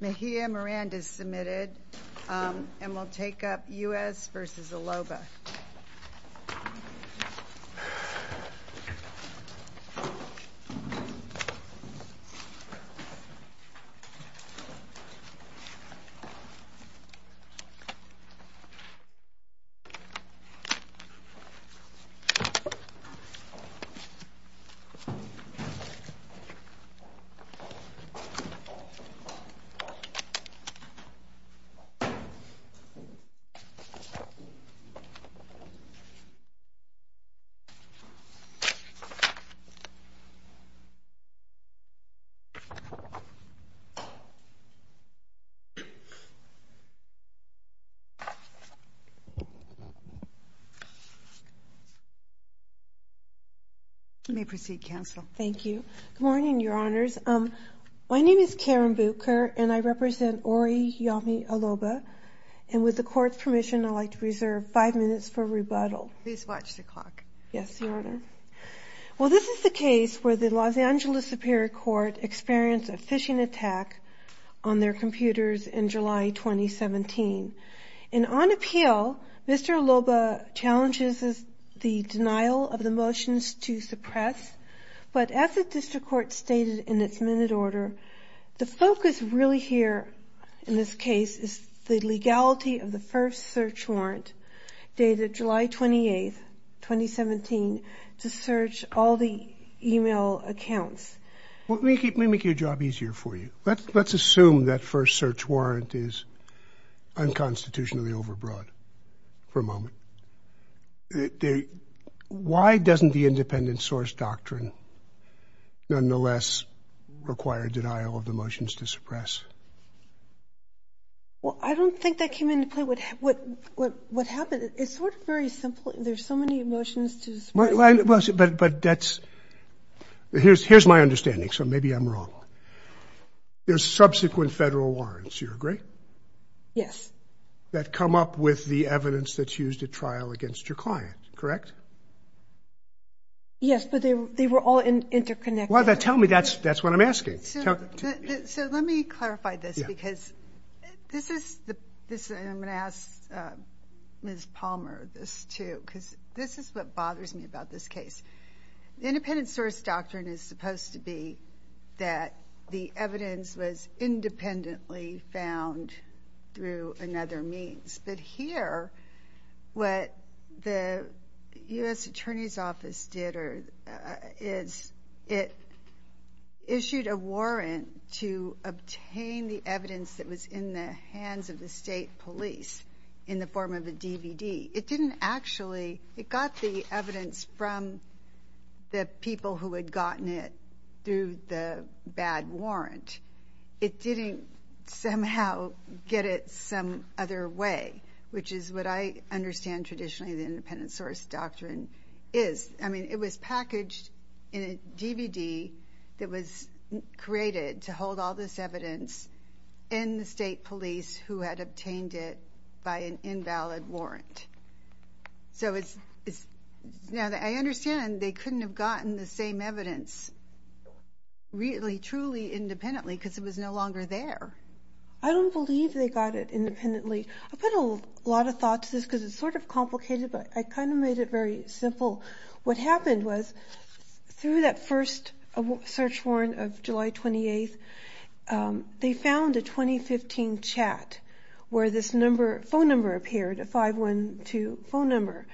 Mejia Miranda is submitted and will take up U.S. v. Aloba. Thank you. May I proceed, Counsel? Thank you. Good morning, your Honors. My name is Karen Bucher, and I represent Oriyomi Aloba. And with the Court's permission, I'd like to reserve five minutes for rebuttal. Please watch the clock. Yes, your Honor. Well, this is the case where the Los Angeles Superior Court experienced a phishing attack on their computers in July 2017. And on appeal, Mr. Aloba challenges the denial of the motions to suppress. But as the District Court stated in its minute order, the focus really here in this case is the legality of the first search warrant dated July 28, 2017, to search all the email accounts. Well, let me make your job easier for you. Let's assume that first search warrant is unconstitutionally overbroad, for a moment. Why doesn't the independent source doctrine, nonetheless, require denial of the motions to suppress? Well, I don't think that came into play. What happened, it's sort of very simple. There's so many motions to suppress. Well, but that's, here's my understanding, so maybe I'm wrong. There's subsequent federal warrants, do you agree? Yes. That come up with the evidence that's used at trial against your client, correct? Yes, but they were all interconnected. Well, then tell me, that's what I'm asking. So let me clarify this, because this is, I'm going to ask Ms. Palmer this too, because this is what bothers me about this case. The independent source doctrine is supposed to be that the evidence was used in other means, but here, what the US Attorney's Office did, or is, it issued a warrant to obtain the evidence that was in the hands of the state police in the form of a DVD. It didn't actually, it got the evidence from the people who had gotten it through the bad warrant. It didn't somehow get it some other way, which is what I understand traditionally the independent source doctrine is. I mean, it was packaged in a DVD that was created to hold all this evidence in the state police who had obtained it by an invalid warrant. So it's, now that I understand, they couldn't have gotten the same evidence really, truly independently, because it was no longer there. I don't believe they got it independently. I put a lot of thought to this, because it's sort of complicated, but I kind of made it very simple. What happened was, through that first search warrant of July 28th, they found a 2015 chat where this phone number appeared, a 512 phone number.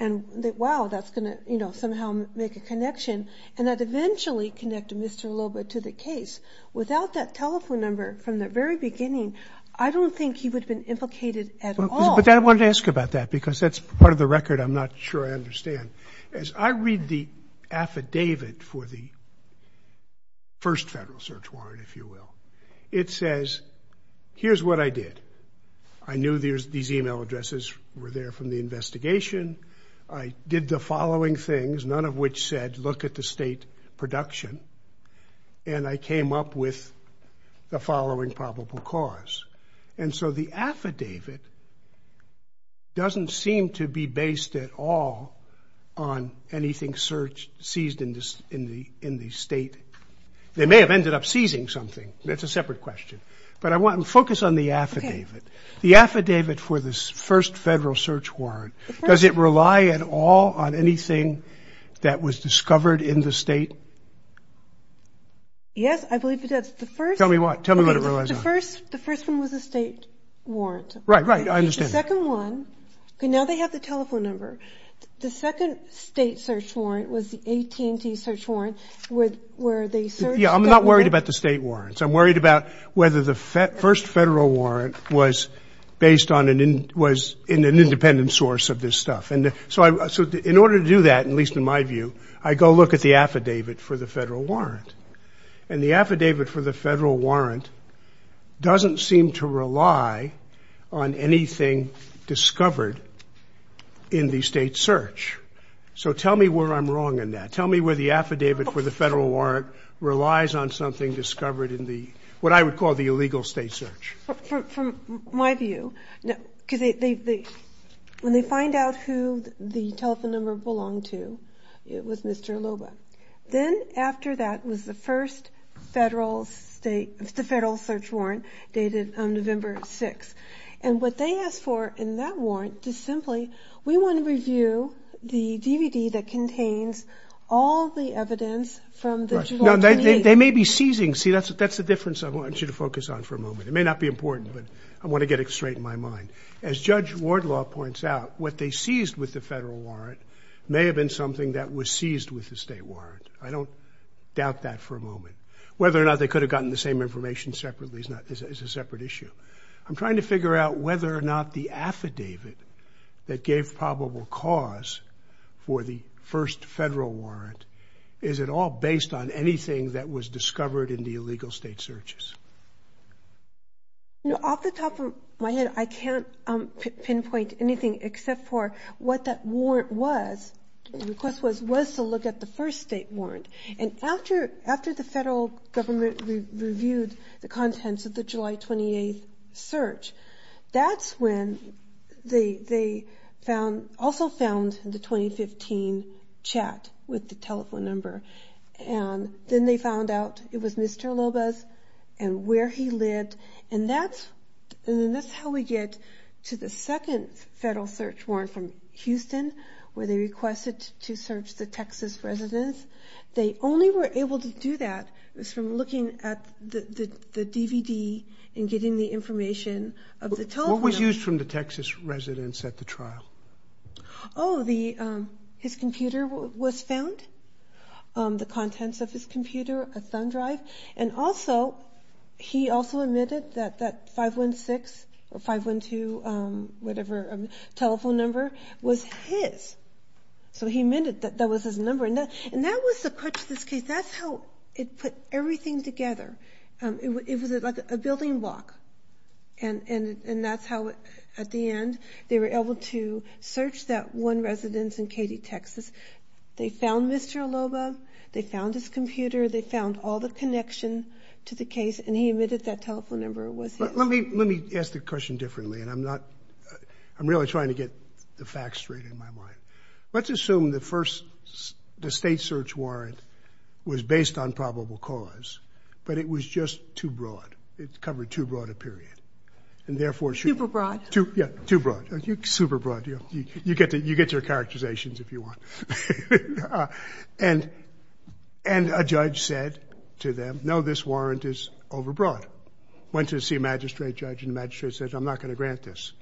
And they, wow, that's going to somehow make a connection. And that eventually connected Mr. Loba to the case. Without that telephone number from the very beginning, I don't think he would have been implicated at all. But I wanted to ask about that, because that's part of the record I'm not sure I understand. As I read the affidavit for the first federal search warrant, if you will, it says, here's what I did. I knew these email addresses were there from the investigation. I did the following things, none of which said, look at the state production. And I came up with the following probable cause. And so the affidavit doesn't seem to be based at all on anything seized in the state. They may have ended up seizing something, that's a separate question. But I want to focus on the affidavit. The affidavit for this first federal search warrant, does it rely at all on anything that was discovered in the state? Yes, I believe it does. The first- Tell me what? Tell me what it relies on. The first one was a state warrant. Right, right, I understand. The second one, okay, now they have the telephone number. The second state search warrant was the AT&T search warrant, where they searched- Yeah, I'm not worried about the state warrants. I'm worried about whether the first federal warrant was based on an, was in an independent source of this stuff. And so I, so in order to do that, at least in my view, I go look at the affidavit for the federal warrant. And the affidavit for the federal warrant doesn't seem to rely on anything discovered in the state search. So tell me where I'm wrong in that. Tell me where the affidavit for the federal warrant relies on something discovered in the, what I would call the illegal state search. From my view, because they, when they find out who the telephone number belonged to, it was Mr. Loba. Then after that was the first federal state, the federal search warrant dated November 6th. And what they asked for in that warrant is simply, we want to review the DVD that contains all the evidence from the- Right, now they may be seizing. See, that's the difference I want you to focus on for a moment. It may not be important, but I want to get it straight in my mind. As Judge Wardlaw points out, what they seized with the federal warrant may have been something that was seized with the state warrant. I don't doubt that for a moment. Whether or not they could have gotten the same information separately is not, is a separate issue. I'm trying to figure out whether or not the affidavit that gave probable cause for the first federal warrant, is it all based on anything that was discovered in the illegal state searches? You know, off the top of my head, I can't pinpoint anything except for what that warrant was, the request was, was to look at the first state warrant. And after, after the federal government reviewed the contents of the July 28th and they, they found, also found the 2015 chat with the telephone number. And then they found out it was Mr. Lobos and where he lived. And that's, and then that's how we get to the second federal search warrant from Houston, where they requested to search the Texas residence. They only were able to do that was from looking at the, the, the DVD and getting the information of the telephone number. What was used from the Texas residence at the trial? Oh, the his computer was found, the contents of his computer, a thumb drive. And also, he also admitted that, that 516 or 512 whatever telephone number was his. So he admitted that, that was his number. And that, and that was the crutch of this case. That's how it put everything together. It was, it was like a building block. And, and, and that's how it, at the end, they were able to search that one residence in Katy, Texas. They found Mr. Lobo. They found his computer. They found all the connection to the case. And he admitted that telephone number was his. But let me, let me ask the question differently. And I'm not, I'm really trying to get the facts straight in my mind. Let's assume the first, the state search warrant was based on probable cause. But it was just too broad. It covered too broad a period. And therefore, it should. Super broad. Too, yeah, too broad. You, super broad. You, you, you get to, you get your characterizations if you want. And, and a judge said to them, no, this warrant is overbroad. Went to see a magistrate judge, and the magistrate says, I'm not going to grant this.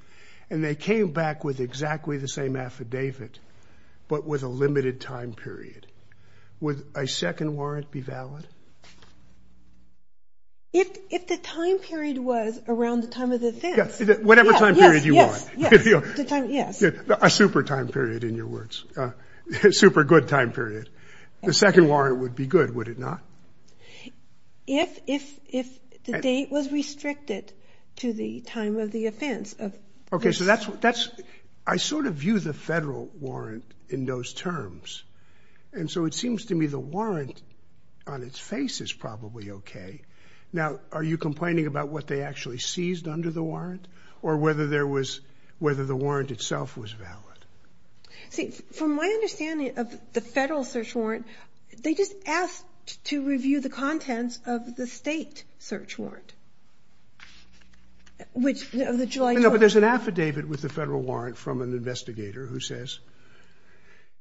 And they came back with exactly the same affidavit, but with a limited time period. Would a second warrant be valid? If, if the time period was around the time of the offense. Yeah, whatever time period you want. Yes, yes, yes. The time, yes. A super time period, in your words. A super good time period. The second warrant would be good, would it not? If, if, if the date was restricted to the time of the offense of. Okay, so that's, that's, I sort of view the federal warrant in those terms. And so it seems to me the warrant on its face is probably okay. Now, are you complaining about what they actually seized under the warrant? Or whether there was, whether the warrant itself was valid? See, from my understanding of the federal search warrant, they just asked to review the contents of the state search warrant. Which, of the July 12th. No, but there's an affidavit with the federal warrant from an investigator who says,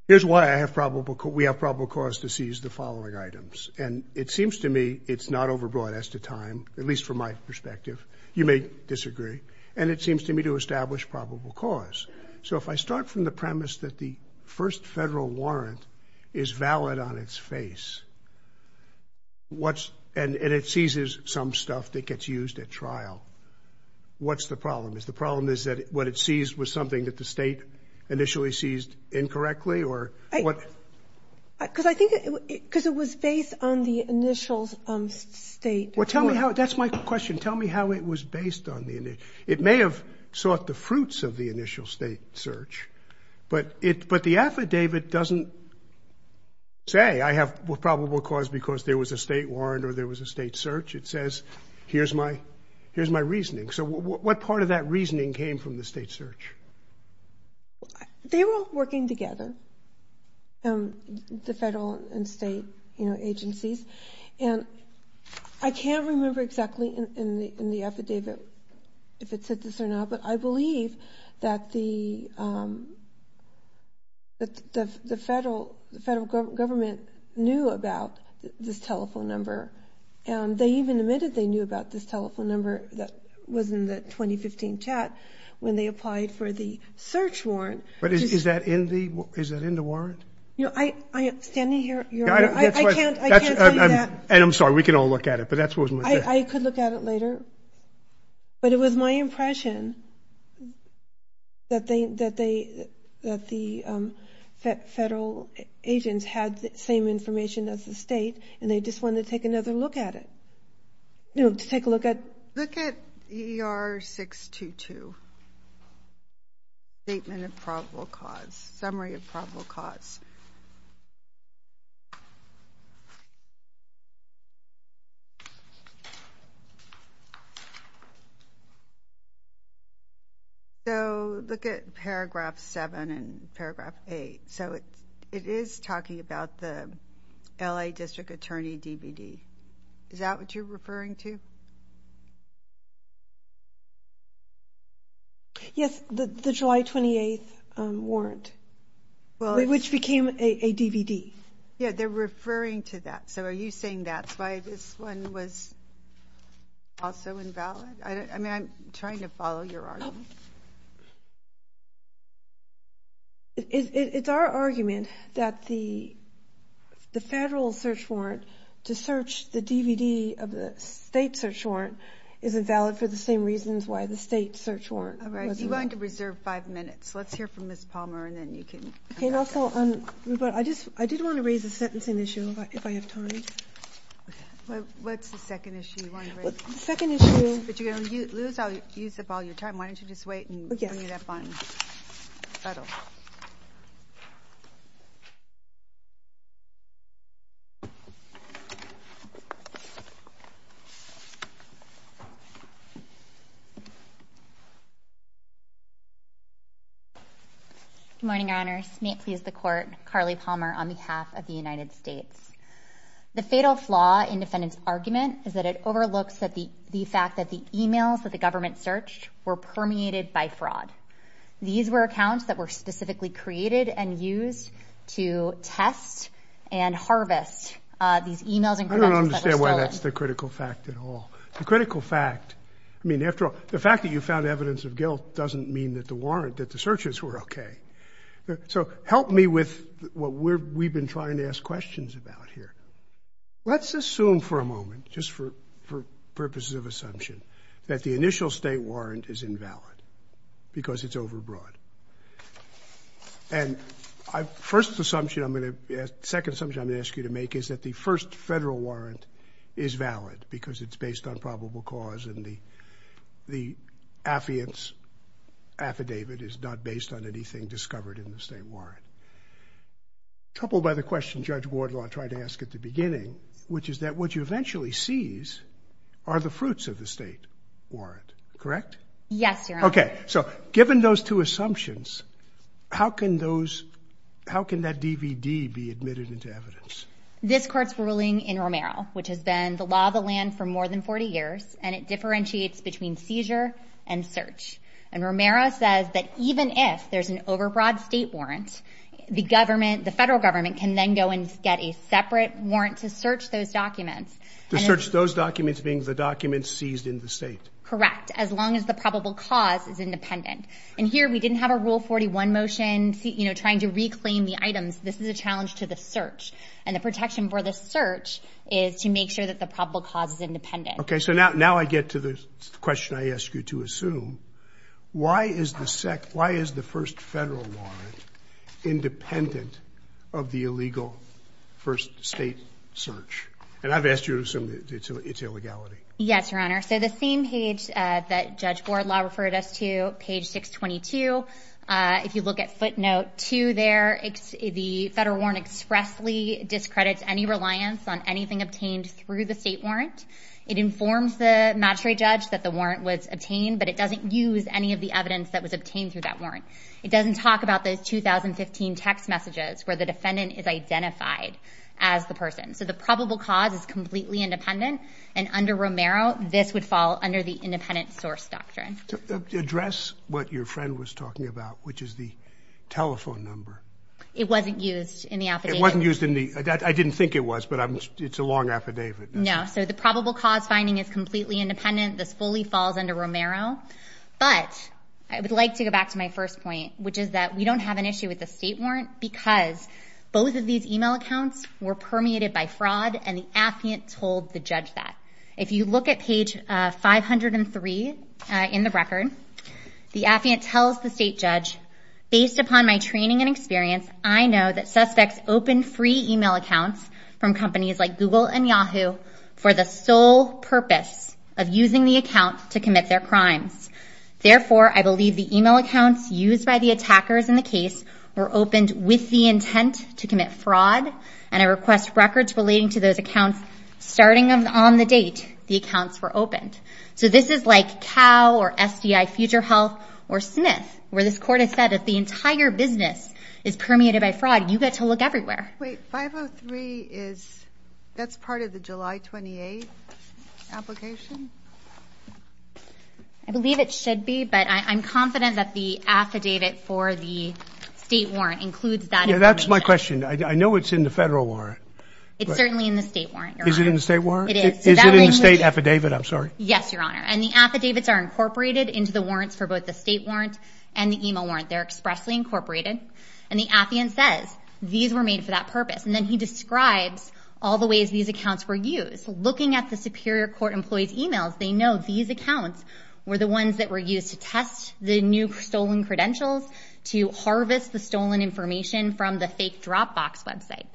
here's why I have probable, we have probable cause to seize the following items. And it seems to me it's not overbroad as to time, at least from my perspective. You may disagree. And it seems to me to establish probable cause. So if I start from the premise that the first federal warrant is valid on its face. What's, and, and it seizes some stuff that gets used at trial. What's the problem? Is the problem is that what it seized was something that the state initially seized incorrectly, or what? Because I think it, because it was based on the initials of state. Well, tell me how, that's my question. Tell me how it was based on the initials. It may have sought the fruits of the initial state search. But it, but the affidavit doesn't say I have probable cause because there was a state warrant or there was a state search, it says here's my, here's my reasoning. So what part of that reasoning came from the state search? They were all working together, the federal and state, you know, agencies. And I can't remember exactly in, in the, in the affidavit if it said this or not. But I believe that the, that the, the federal, the federal government knew about this telephone number. And they even admitted they knew about this telephone number that was in the 2015 CHAT when they applied for the search warrant. But is, is that in the, is that in the warrant? You know, I, I, standing here, Your Honor, I, I can't, I can't tell you that. And I'm sorry, we can all look at it, but that's what was in the CHAT. I, I could look at it later, but it was my impression that they, that they, that the federal agents had the same information as the state, and they just wanted to take another look at it, you know, to take a look at. Look at EER 622, Statement of Probable Cause, Summary of Probable Cause. So look at paragraph seven and paragraph eight. So it, it is talking about the LA District Attorney DVD. Is that what you're referring to? Yes, the, the July 28th warrant. Well, it's. Which became a, a DVD. Yeah, they're referring to that. So are you saying that's why this one was also invalid? I don't, I mean, I'm trying to follow your argument. It, it, it, it's our argument that the, the federal search warrant to search the DVD of the state search warrant isn't valid for the same reasons why the state search warrant. All right, you're going to reserve five minutes. Let's hear from Ms. Palmer and then you can. Okay, and also on, but I just, I did want to raise a sentencing issue if I, if I have time. What's the second issue you want to raise? Second issue. But you're going to lose, lose all, use up all your time. Why don't you just wait and bring it up on federal. Good morning, your honors. May it please the court. Carly Palmer on behalf of the United States. The fatal flaw in defendant's argument is that it overlooks that the, the fact that the emails that the government searched were permeated by fraud. These were accounts that were specifically created and used to test and harvest these emails and credentials that were stolen. Not a critical fact at all. The critical fact, I mean, after all, the fact that you found evidence of guilt doesn't mean that the warrant, that the searches were okay. So help me with what we're, we've been trying to ask questions about here. Let's assume for a moment, just for, for purposes of assumption, that the initial state warrant is invalid because it's overbroad. And I, first assumption I'm going to, second assumption I'm going to ask you to make is that the first federal warrant is valid because it's based on probable cause and the, the affidavit is not based on anything discovered in the state warrant. Troubled by the question Judge Wardlaw tried to ask at the beginning, which is that what you eventually seize are the fruits of the state warrant. Correct? Yes, your honor. Okay, so given those two assumptions, how can those, how can that DVD be admitted into evidence? This court's ruling in Romero, which has been the law of the land for more than 40 years, and it differentiates between seizure and search. And Romero says that even if there's an overbroad state warrant, the government, the federal government can then go and get a separate warrant to search those documents. To search those documents being the documents seized in the state. Correct, as long as the probable cause is independent. And here we didn't have a rule 41 motion, you know, trying to reclaim the items. This is a challenge to the search. And the protection for the search is to make sure that the probable cause is independent. Okay, so now I get to the question I ask you to assume. Why is the first federal warrant independent of the illegal first state search? And I've asked you to assume it's illegality. Yes, your honor. So the same page that Judge Wardlaw referred us to, page 622. If you look at footnote two there, the federal warrant expressly discredits any reliance on anything obtained through the state warrant. It informs the magistrate judge that the warrant was obtained, but it doesn't use any of the evidence that was obtained through that warrant. It doesn't talk about the 2015 text messages, where the defendant is identified as the person. So the probable cause is completely independent. And under Romero, this would fall under the independent source doctrine. Address what your friend was talking about, which is the telephone number. It wasn't used in the affidavit. It wasn't used in the, I didn't think it was, but it's a long affidavit. No, so the probable cause finding is completely independent. This fully falls under Romero. But I would like to go back to my first point, which is that we don't have an issue with the state warrant because both of these email accounts were permeated by fraud and the affiant told the judge that. If you look at page 503 in the record, the affiant tells the state judge, based upon my training and experience, I know that suspects open free email accounts from companies like Google and Yahoo for the sole purpose of using the account to commit their crimes. Therefore, I believe the email accounts used by the attackers in the case were opened with the intent to commit fraud. And I request records relating to those accounts starting on the date the accounts were opened. So this is like Cal or SDI, Future Health or Smith, where this court has said that the entire business is permeated by fraud, you get to look everywhere. Wait, 503 is, that's part of the July 28th application? I believe it should be, but I'm confident that the affidavit for the state warrant includes that information. Yeah, that's my question. I know it's in the federal warrant. It's certainly in the state warrant, Your Honor. Is it in the state warrant? It is. Is that where you- Is it in the state affidavit? I'm sorry. Yes, Your Honor. And the affidavits are incorporated into the warrants for both the state warrant and the email warrant. They're expressly incorporated. And the affiant says, these were made for that purpose. And then he describes all the ways these accounts were used. Looking at the Superior Court employee's emails, they know these accounts were the ones that were used to test the new stolen credentials, to harvest the stolen information from the fake Dropbox website.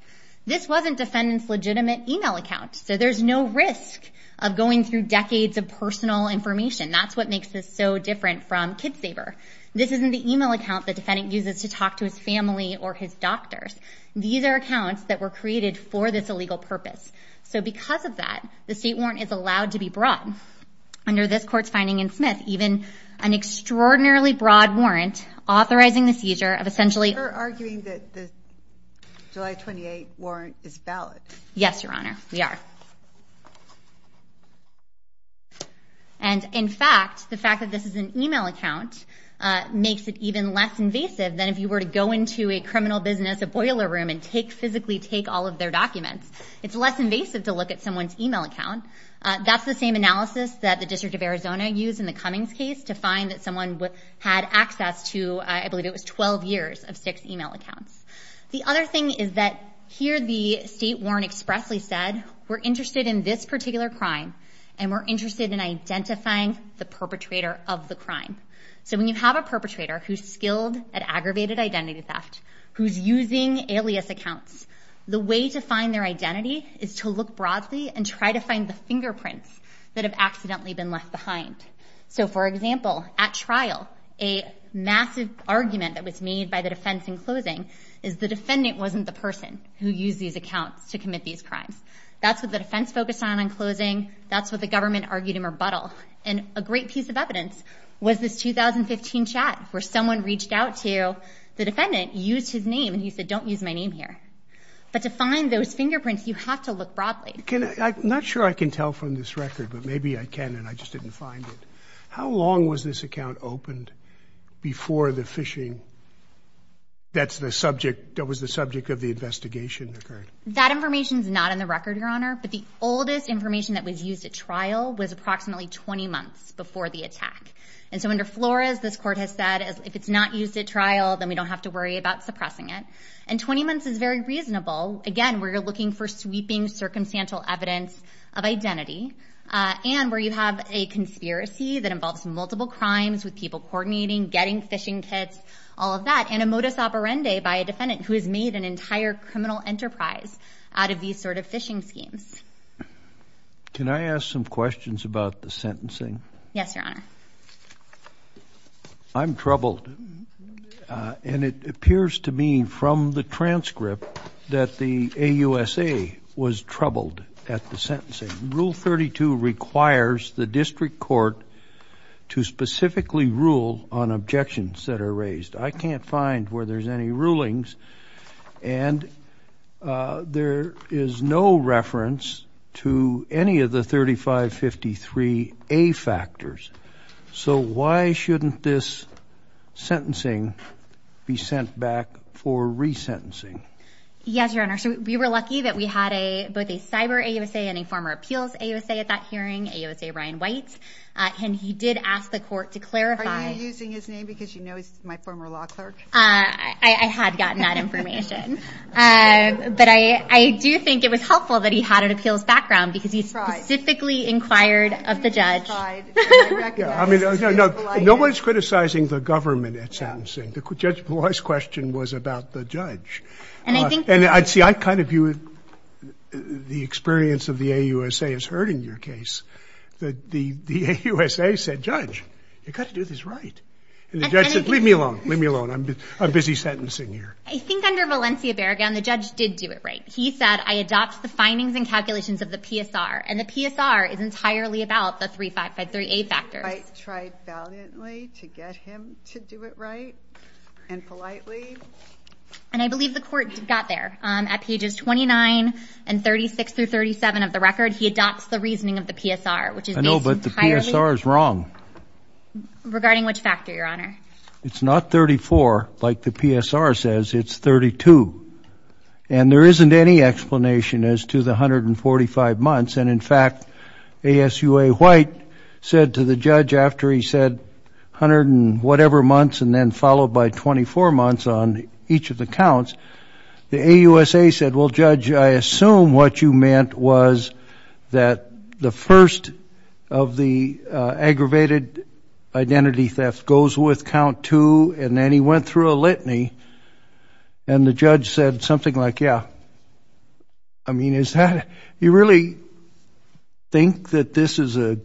This wasn't defendant's legitimate email account, so there's no risk of going through decades of personal information. That's what makes this so different from KidSaver. This isn't the email account the defendant uses to talk to his family or his doctors. These are accounts that were created for this illegal purpose. So because of that, the state warrant is allowed to be broad. Under this court's finding in Smith, even an extraordinarily broad warrant authorizing the seizure of essentially- You're arguing that the July 28th warrant is valid. Yes, Your Honor, we are. And in fact, the fact that this is an email account makes it even less invasive than if you were to go into a criminal business, a boiler room, and physically take all of their documents. It's less invasive to look at someone's email account. That's the same analysis that the District of Arizona used in the Cummings case to find that someone had access to, I believe it was, 12 years of six email accounts. The other thing is that here the state warrant expressly said, we're interested in this particular crime, and we're interested in identifying the perpetrator of the crime. So when you have a perpetrator who's skilled at aggravated identity theft, who's using alias accounts, the way to find their identity is to look broadly and try to find the fingerprints that have accidentally been left behind. So for example, at trial, a massive argument that was made by the defense in closing is the defendant wasn't the person who used these accounts to commit these crimes. That's what the defense focused on in closing. That's what the government argued in rebuttal. And a great piece of evidence was this 2015 chat where someone reached out to the defendant, used his name, and he said, don't use my name here. But to find those fingerprints, you have to look broadly. Not sure I can tell from this record, but maybe I can, and I just didn't find it. How long was this account opened before the phishing, that was the subject of the investigation, occurred? That information's not in the record, Your Honor, but the oldest information that was used at trial was approximately 20 months before the attack. And so under Flores, this court has said, if it's not used at trial, then we don't have to worry about suppressing it. And 20 months is very reasonable. Again, we're looking for sweeping, circumstantial evidence of identity, and where you have a conspiracy that involves multiple crimes with people coordinating, getting phishing kits, all of that. And a modus operandi by a defendant who has made an entire criminal enterprise out of these sort of phishing schemes. Can I ask some questions about the sentencing? Yes, Your Honor. I'm troubled, and it appears to me from the transcript that the AUSA was troubled at the sentencing. Rule 32 requires the district court to specifically rule on objections that are raised. I can't find where there's any rulings. And there is no reference to any of the 3553A factors. So why shouldn't this sentencing be sent back for re-sentencing? Yes, Your Honor. So we were lucky that we had both a cyber AUSA and a former appeals AUSA at that hearing, AUSA Ryan White. And he did ask the court to clarify- Are you using his name because you know he's my former law clerk? I had gotten that information. But I do think it was helpful that he had an appeals background, because he specifically inquired of the judge. I mean, no one's criticizing the government at sentencing. The judge's question was about the judge. And I'd see, I kind of view the experience of the AUSA as hurting your case. The AUSA said, judge, you've got to do this right. And the judge said, leave me alone, leave me alone, I'm busy sentencing here. I think under Valencia Barragán, the judge did do it right. He said, I adopt the findings and calculations of the PSR, and the PSR is entirely about the 3553A factors. I tried valiantly to get him to do it right, and politely. And I believe the court got there. At pages 29 and 36 through 37 of the record, he adopts the reasoning of the PSR, which is based entirely- I know, but the PSR is wrong. Regarding which factor, your honor? It's not 34, like the PSR says, it's 32. And there isn't any explanation as to the 145 months. And in fact, ASUA White said to the judge, after he said 100 and whatever months, and then followed by 24 months on each of the counts, the AUSA said, well, judge, I assume what you meant was that the first of the aggravated identity theft goes with count two, and then he went through a litany, and the judge said something like, yeah. I mean, is that, you really think that this is a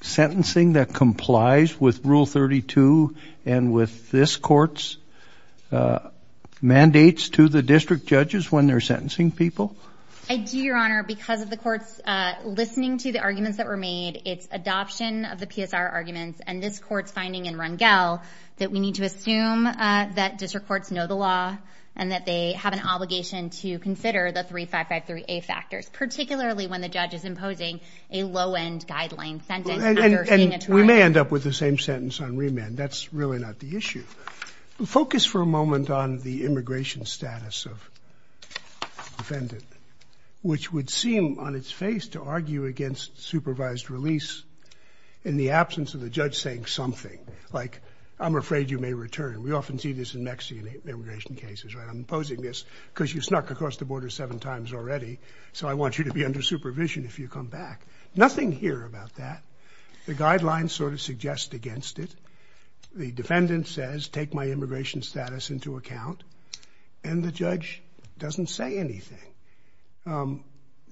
sentencing that complies with Rule 32, and with this court's mandates to the district judges when they're sentencing people? I do, your honor, because of the court's listening to the arguments that were made. It's adoption of the PSR arguments, and this court's finding in Rungell, that we need to assume that district courts know the law. And that they have an obligation to consider the 3553A factors, particularly when the judge is imposing a low-end guideline sentence after seeing a trial. We may end up with the same sentence on remand. That's really not the issue. Focus for a moment on the immigration status of the defendant, which would seem on its face to argue against supervised release in the absence of the judge saying something like, I'm afraid you may return. We often see this in Mexican immigration cases, right? I'm imposing this because you snuck across the border seven times already, so I want you to be under supervision if you come back. Nothing here about that. The guidelines sort of suggest against it. The defendant says, take my immigration status into account, and the judge doesn't say anything.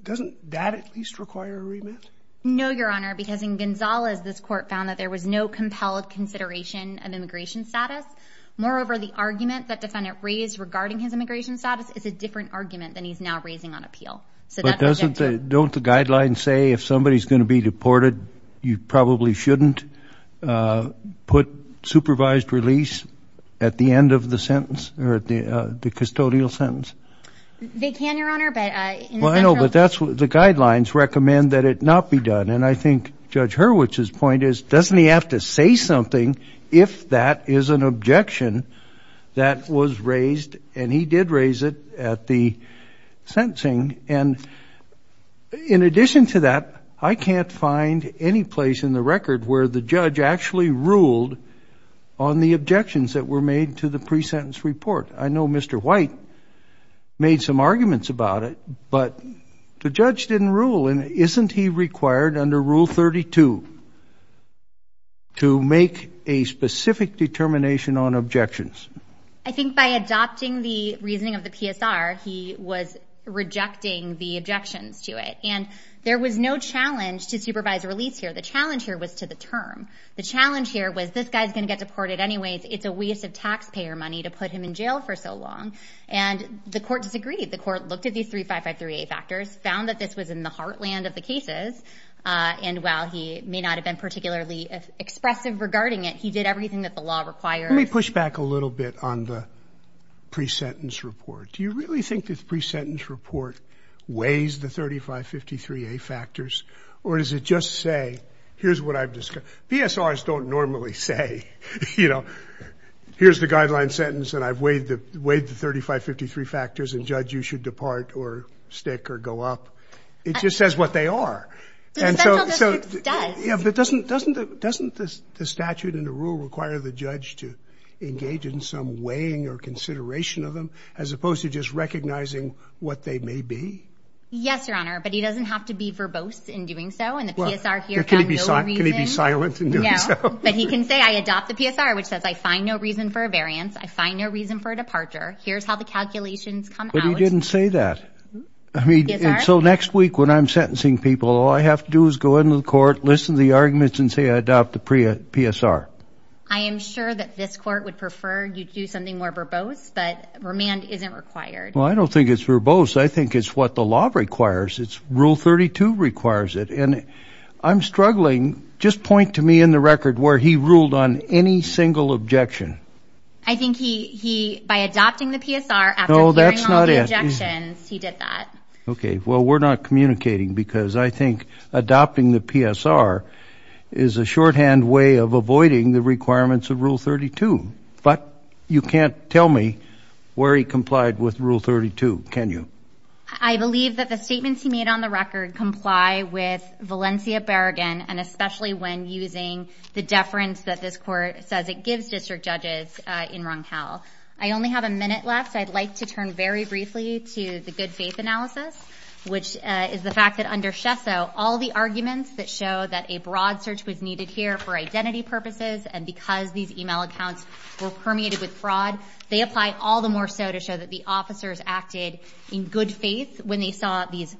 Doesn't that at least require a remand? No, your honor, because in Gonzalez, this court found that there was no compelled consideration of immigration status. Moreover, the argument that defendant raised regarding his immigration status is a different argument than he's now raising on appeal. But doesn't the, don't the guidelines say if somebody's going to be deported, you probably shouldn't put supervised release at the end of the sentence, or at the custodial sentence? They can, your honor, but in the central- Well, I know, but that's what the guidelines recommend that it not be done. And I think Judge Hurwitz's point is, doesn't he have to say something if that is an objection that was raised, and he did raise it at the sentencing. And in addition to that, I can't find any place in the record where the judge actually ruled on the objections that were made to the pre-sentence report. I know Mr. White made some arguments about it, but the judge didn't rule. And isn't he required under Rule 32 to make a specific determination on objections? I think by adopting the reasoning of the PSR, he was rejecting the objections to it. And there was no challenge to supervised release here. The challenge here was to the term. The challenge here was, this guy's going to get deported anyways. It's a waste of taxpayer money to put him in jail for so long. And the court disagreed. The court looked at these 3553A factors, found that this was in the heartland of the cases. And while he may not have been particularly expressive regarding it, he did everything that the law requires. Let me push back a little bit on the pre-sentence report. Do you really think this pre-sentence report weighs the 3553A factors? Or does it just say, here's what I've discussed. PSRs don't normally say, you know, here's the guideline sentence, and I've weighed the 3553 factors, and judge, you should depart or stick or go up. It just says what they are. And so doesn't the statute and the rule require the judge to engage in some weighing or consideration of them, as opposed to just recognizing what they may be? Yes, Your Honor, but he doesn't have to be verbose in doing so. And the PSR here found no reason. Can he be silent in doing so? But he can say, I adopt the PSR, which says I find no reason for a variance. I find no reason for a departure. Here's how the calculations come out. But he didn't say that. I mean, and so next week when I'm sentencing people, all I have to do is go into the court, listen to the arguments, and say I adopt the PSR. I am sure that this court would prefer you do something more verbose, but remand isn't required. Well, I don't think it's verbose. I think it's what the law requires. It's rule 32 requires it. And I'm struggling. Just point to me in the record where he ruled on any single objection. I think he, by adopting the PSR after hearing all the objections, he did that. Okay, well, we're not communicating because I think adopting the PSR is a shorthand way of avoiding the requirements of Rule 32. But you can't tell me where he complied with Rule 32, can you? I believe that the statements he made on the record comply with Valencia Berrigan, and I only have a minute left, so I'd like to turn very briefly to the good faith analysis, which is the fact that under Shesso, all the arguments that show that a broad search was needed here for identity purposes, and because these email accounts were permeated with fraud, they apply all the more so to show that the officers acted in good faith when they saw these,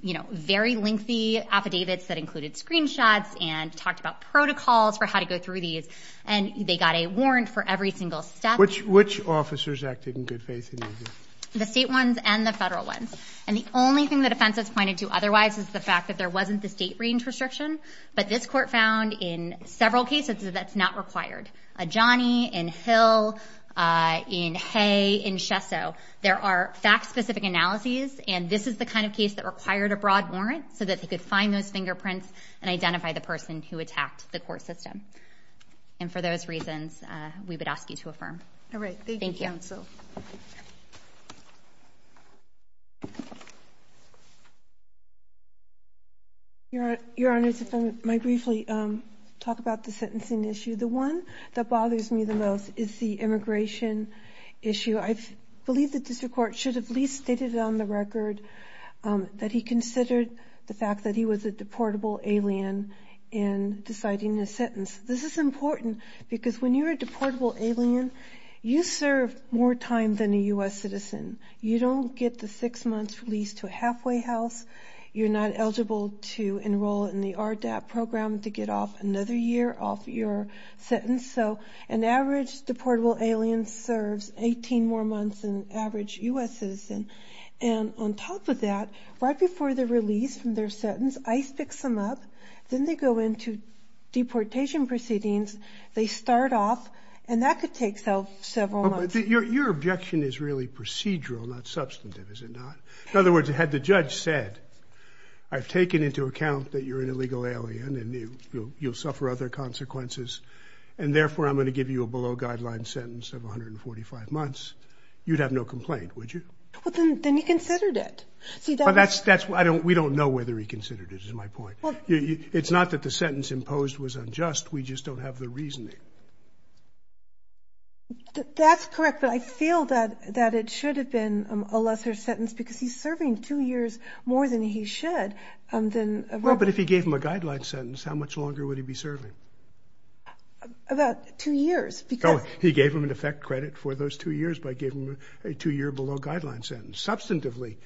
you know, very lengthy affidavits that included screenshots, and talked about protocols for how to go through these. And they got a warrant for every single step. Which officers acted in good faith in these? The state ones and the federal ones, and the only thing the defense has pointed to otherwise is the fact that there wasn't the state range restriction, but this court found in several cases that that's not required, in Johnny, in Hill, in Hay, in Shesso. There are fact specific analyses, and this is the kind of case that required a broad warrant so that they could find those fingerprints and identify the person who attacked the court system. And for those reasons, we would ask you to affirm. All right. Thank you. Thank you. Your Honor, if I might briefly talk about the sentencing issue. The one that bothers me the most is the immigration issue. I believe the district court should have at least stated on the record that he considered the fact that he was a deportable alien in deciding his sentence. This is important because when you're a deportable alien, you serve more time than a U.S. citizen. You don't get the six months released to a halfway house. You're not eligible to enroll in the RDAP program to get off another year off your sentence. So an average deportable alien serves 18 more months than an average U.S. citizen. And on top of that, right before the release from their sentence, ICE picks them up, then they go into deportation proceedings, they start off, and that could take several months. Your objection is really procedural, not substantive, is it not? In other words, had the judge said, I've taken into account that you're an illegal alien and you'll suffer other consequences, and therefore I'm going to give you a below guideline sentence of 145 months, you'd have no complaint, would you? Well, then he considered it. See, that's... Well, that's... We don't know whether he considered it, is my point. It's not that the sentence imposed was unjust. We just don't have the reasoning. That's correct. But I feel that it should have been a lesser sentence because he's serving two years more than he should than... Well, but if he gave him a guideline sentence, how much longer would he be serving? About two years, because... He gave him, in effect, credit for those two years by giving him a two-year below guideline sentence. Substantively,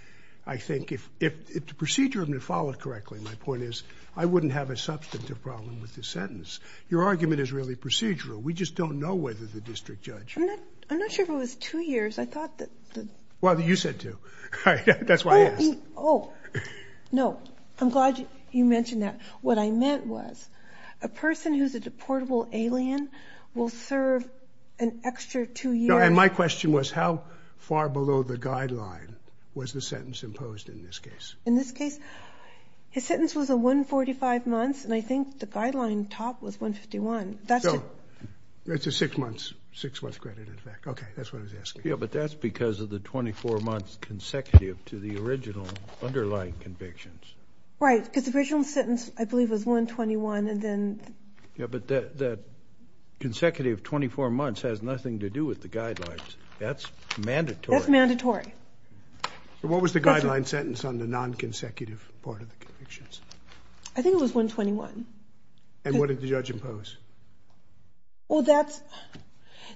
I think, if the procedure had been followed correctly, my point is, I wouldn't have a substantive problem with this sentence. Your argument is really procedural. We just don't know whether the district judge... I'm not sure if it was two years. I thought that... Well, you said two. That's why I asked. Oh. No. I'm glad you mentioned that. What I meant was, a person who's a deportable alien will serve an extra two years... And my question was, how far below the guideline was the sentence imposed in this case? In this case, his sentence was a 145 months, and I think the guideline top was 151. That's a... No. That's a six-month credit, in fact. Okay. That's what I was asking. Yeah, but that's because of the 24 months consecutive to the original underlying convictions. Right. Because the original sentence, I believe, was 121, and then... Yeah, but that consecutive 24 months has nothing to do with the guidelines. That's mandatory. That's mandatory. But what was the guideline sentence on the non-consecutive part of the convictions? I think it was 121. And what did the judge impose? Well, that's...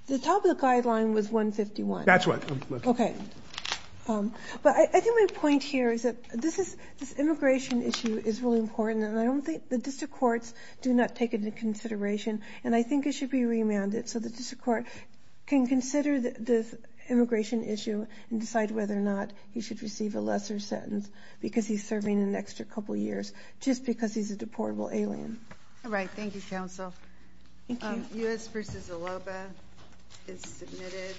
The top of the guideline was 151. That's what... Okay. But I think my point here is that this immigration issue is really important, and I don't think... The district courts do not take it into consideration, and I think it should be remanded so the district court can consider the immigration issue and decide whether or not he should receive a lesser sentence because he's serving an extra couple years just because he's a deportable alien. All right. Thank you, counsel. Thank you. U.S. v. Aloba is submitted.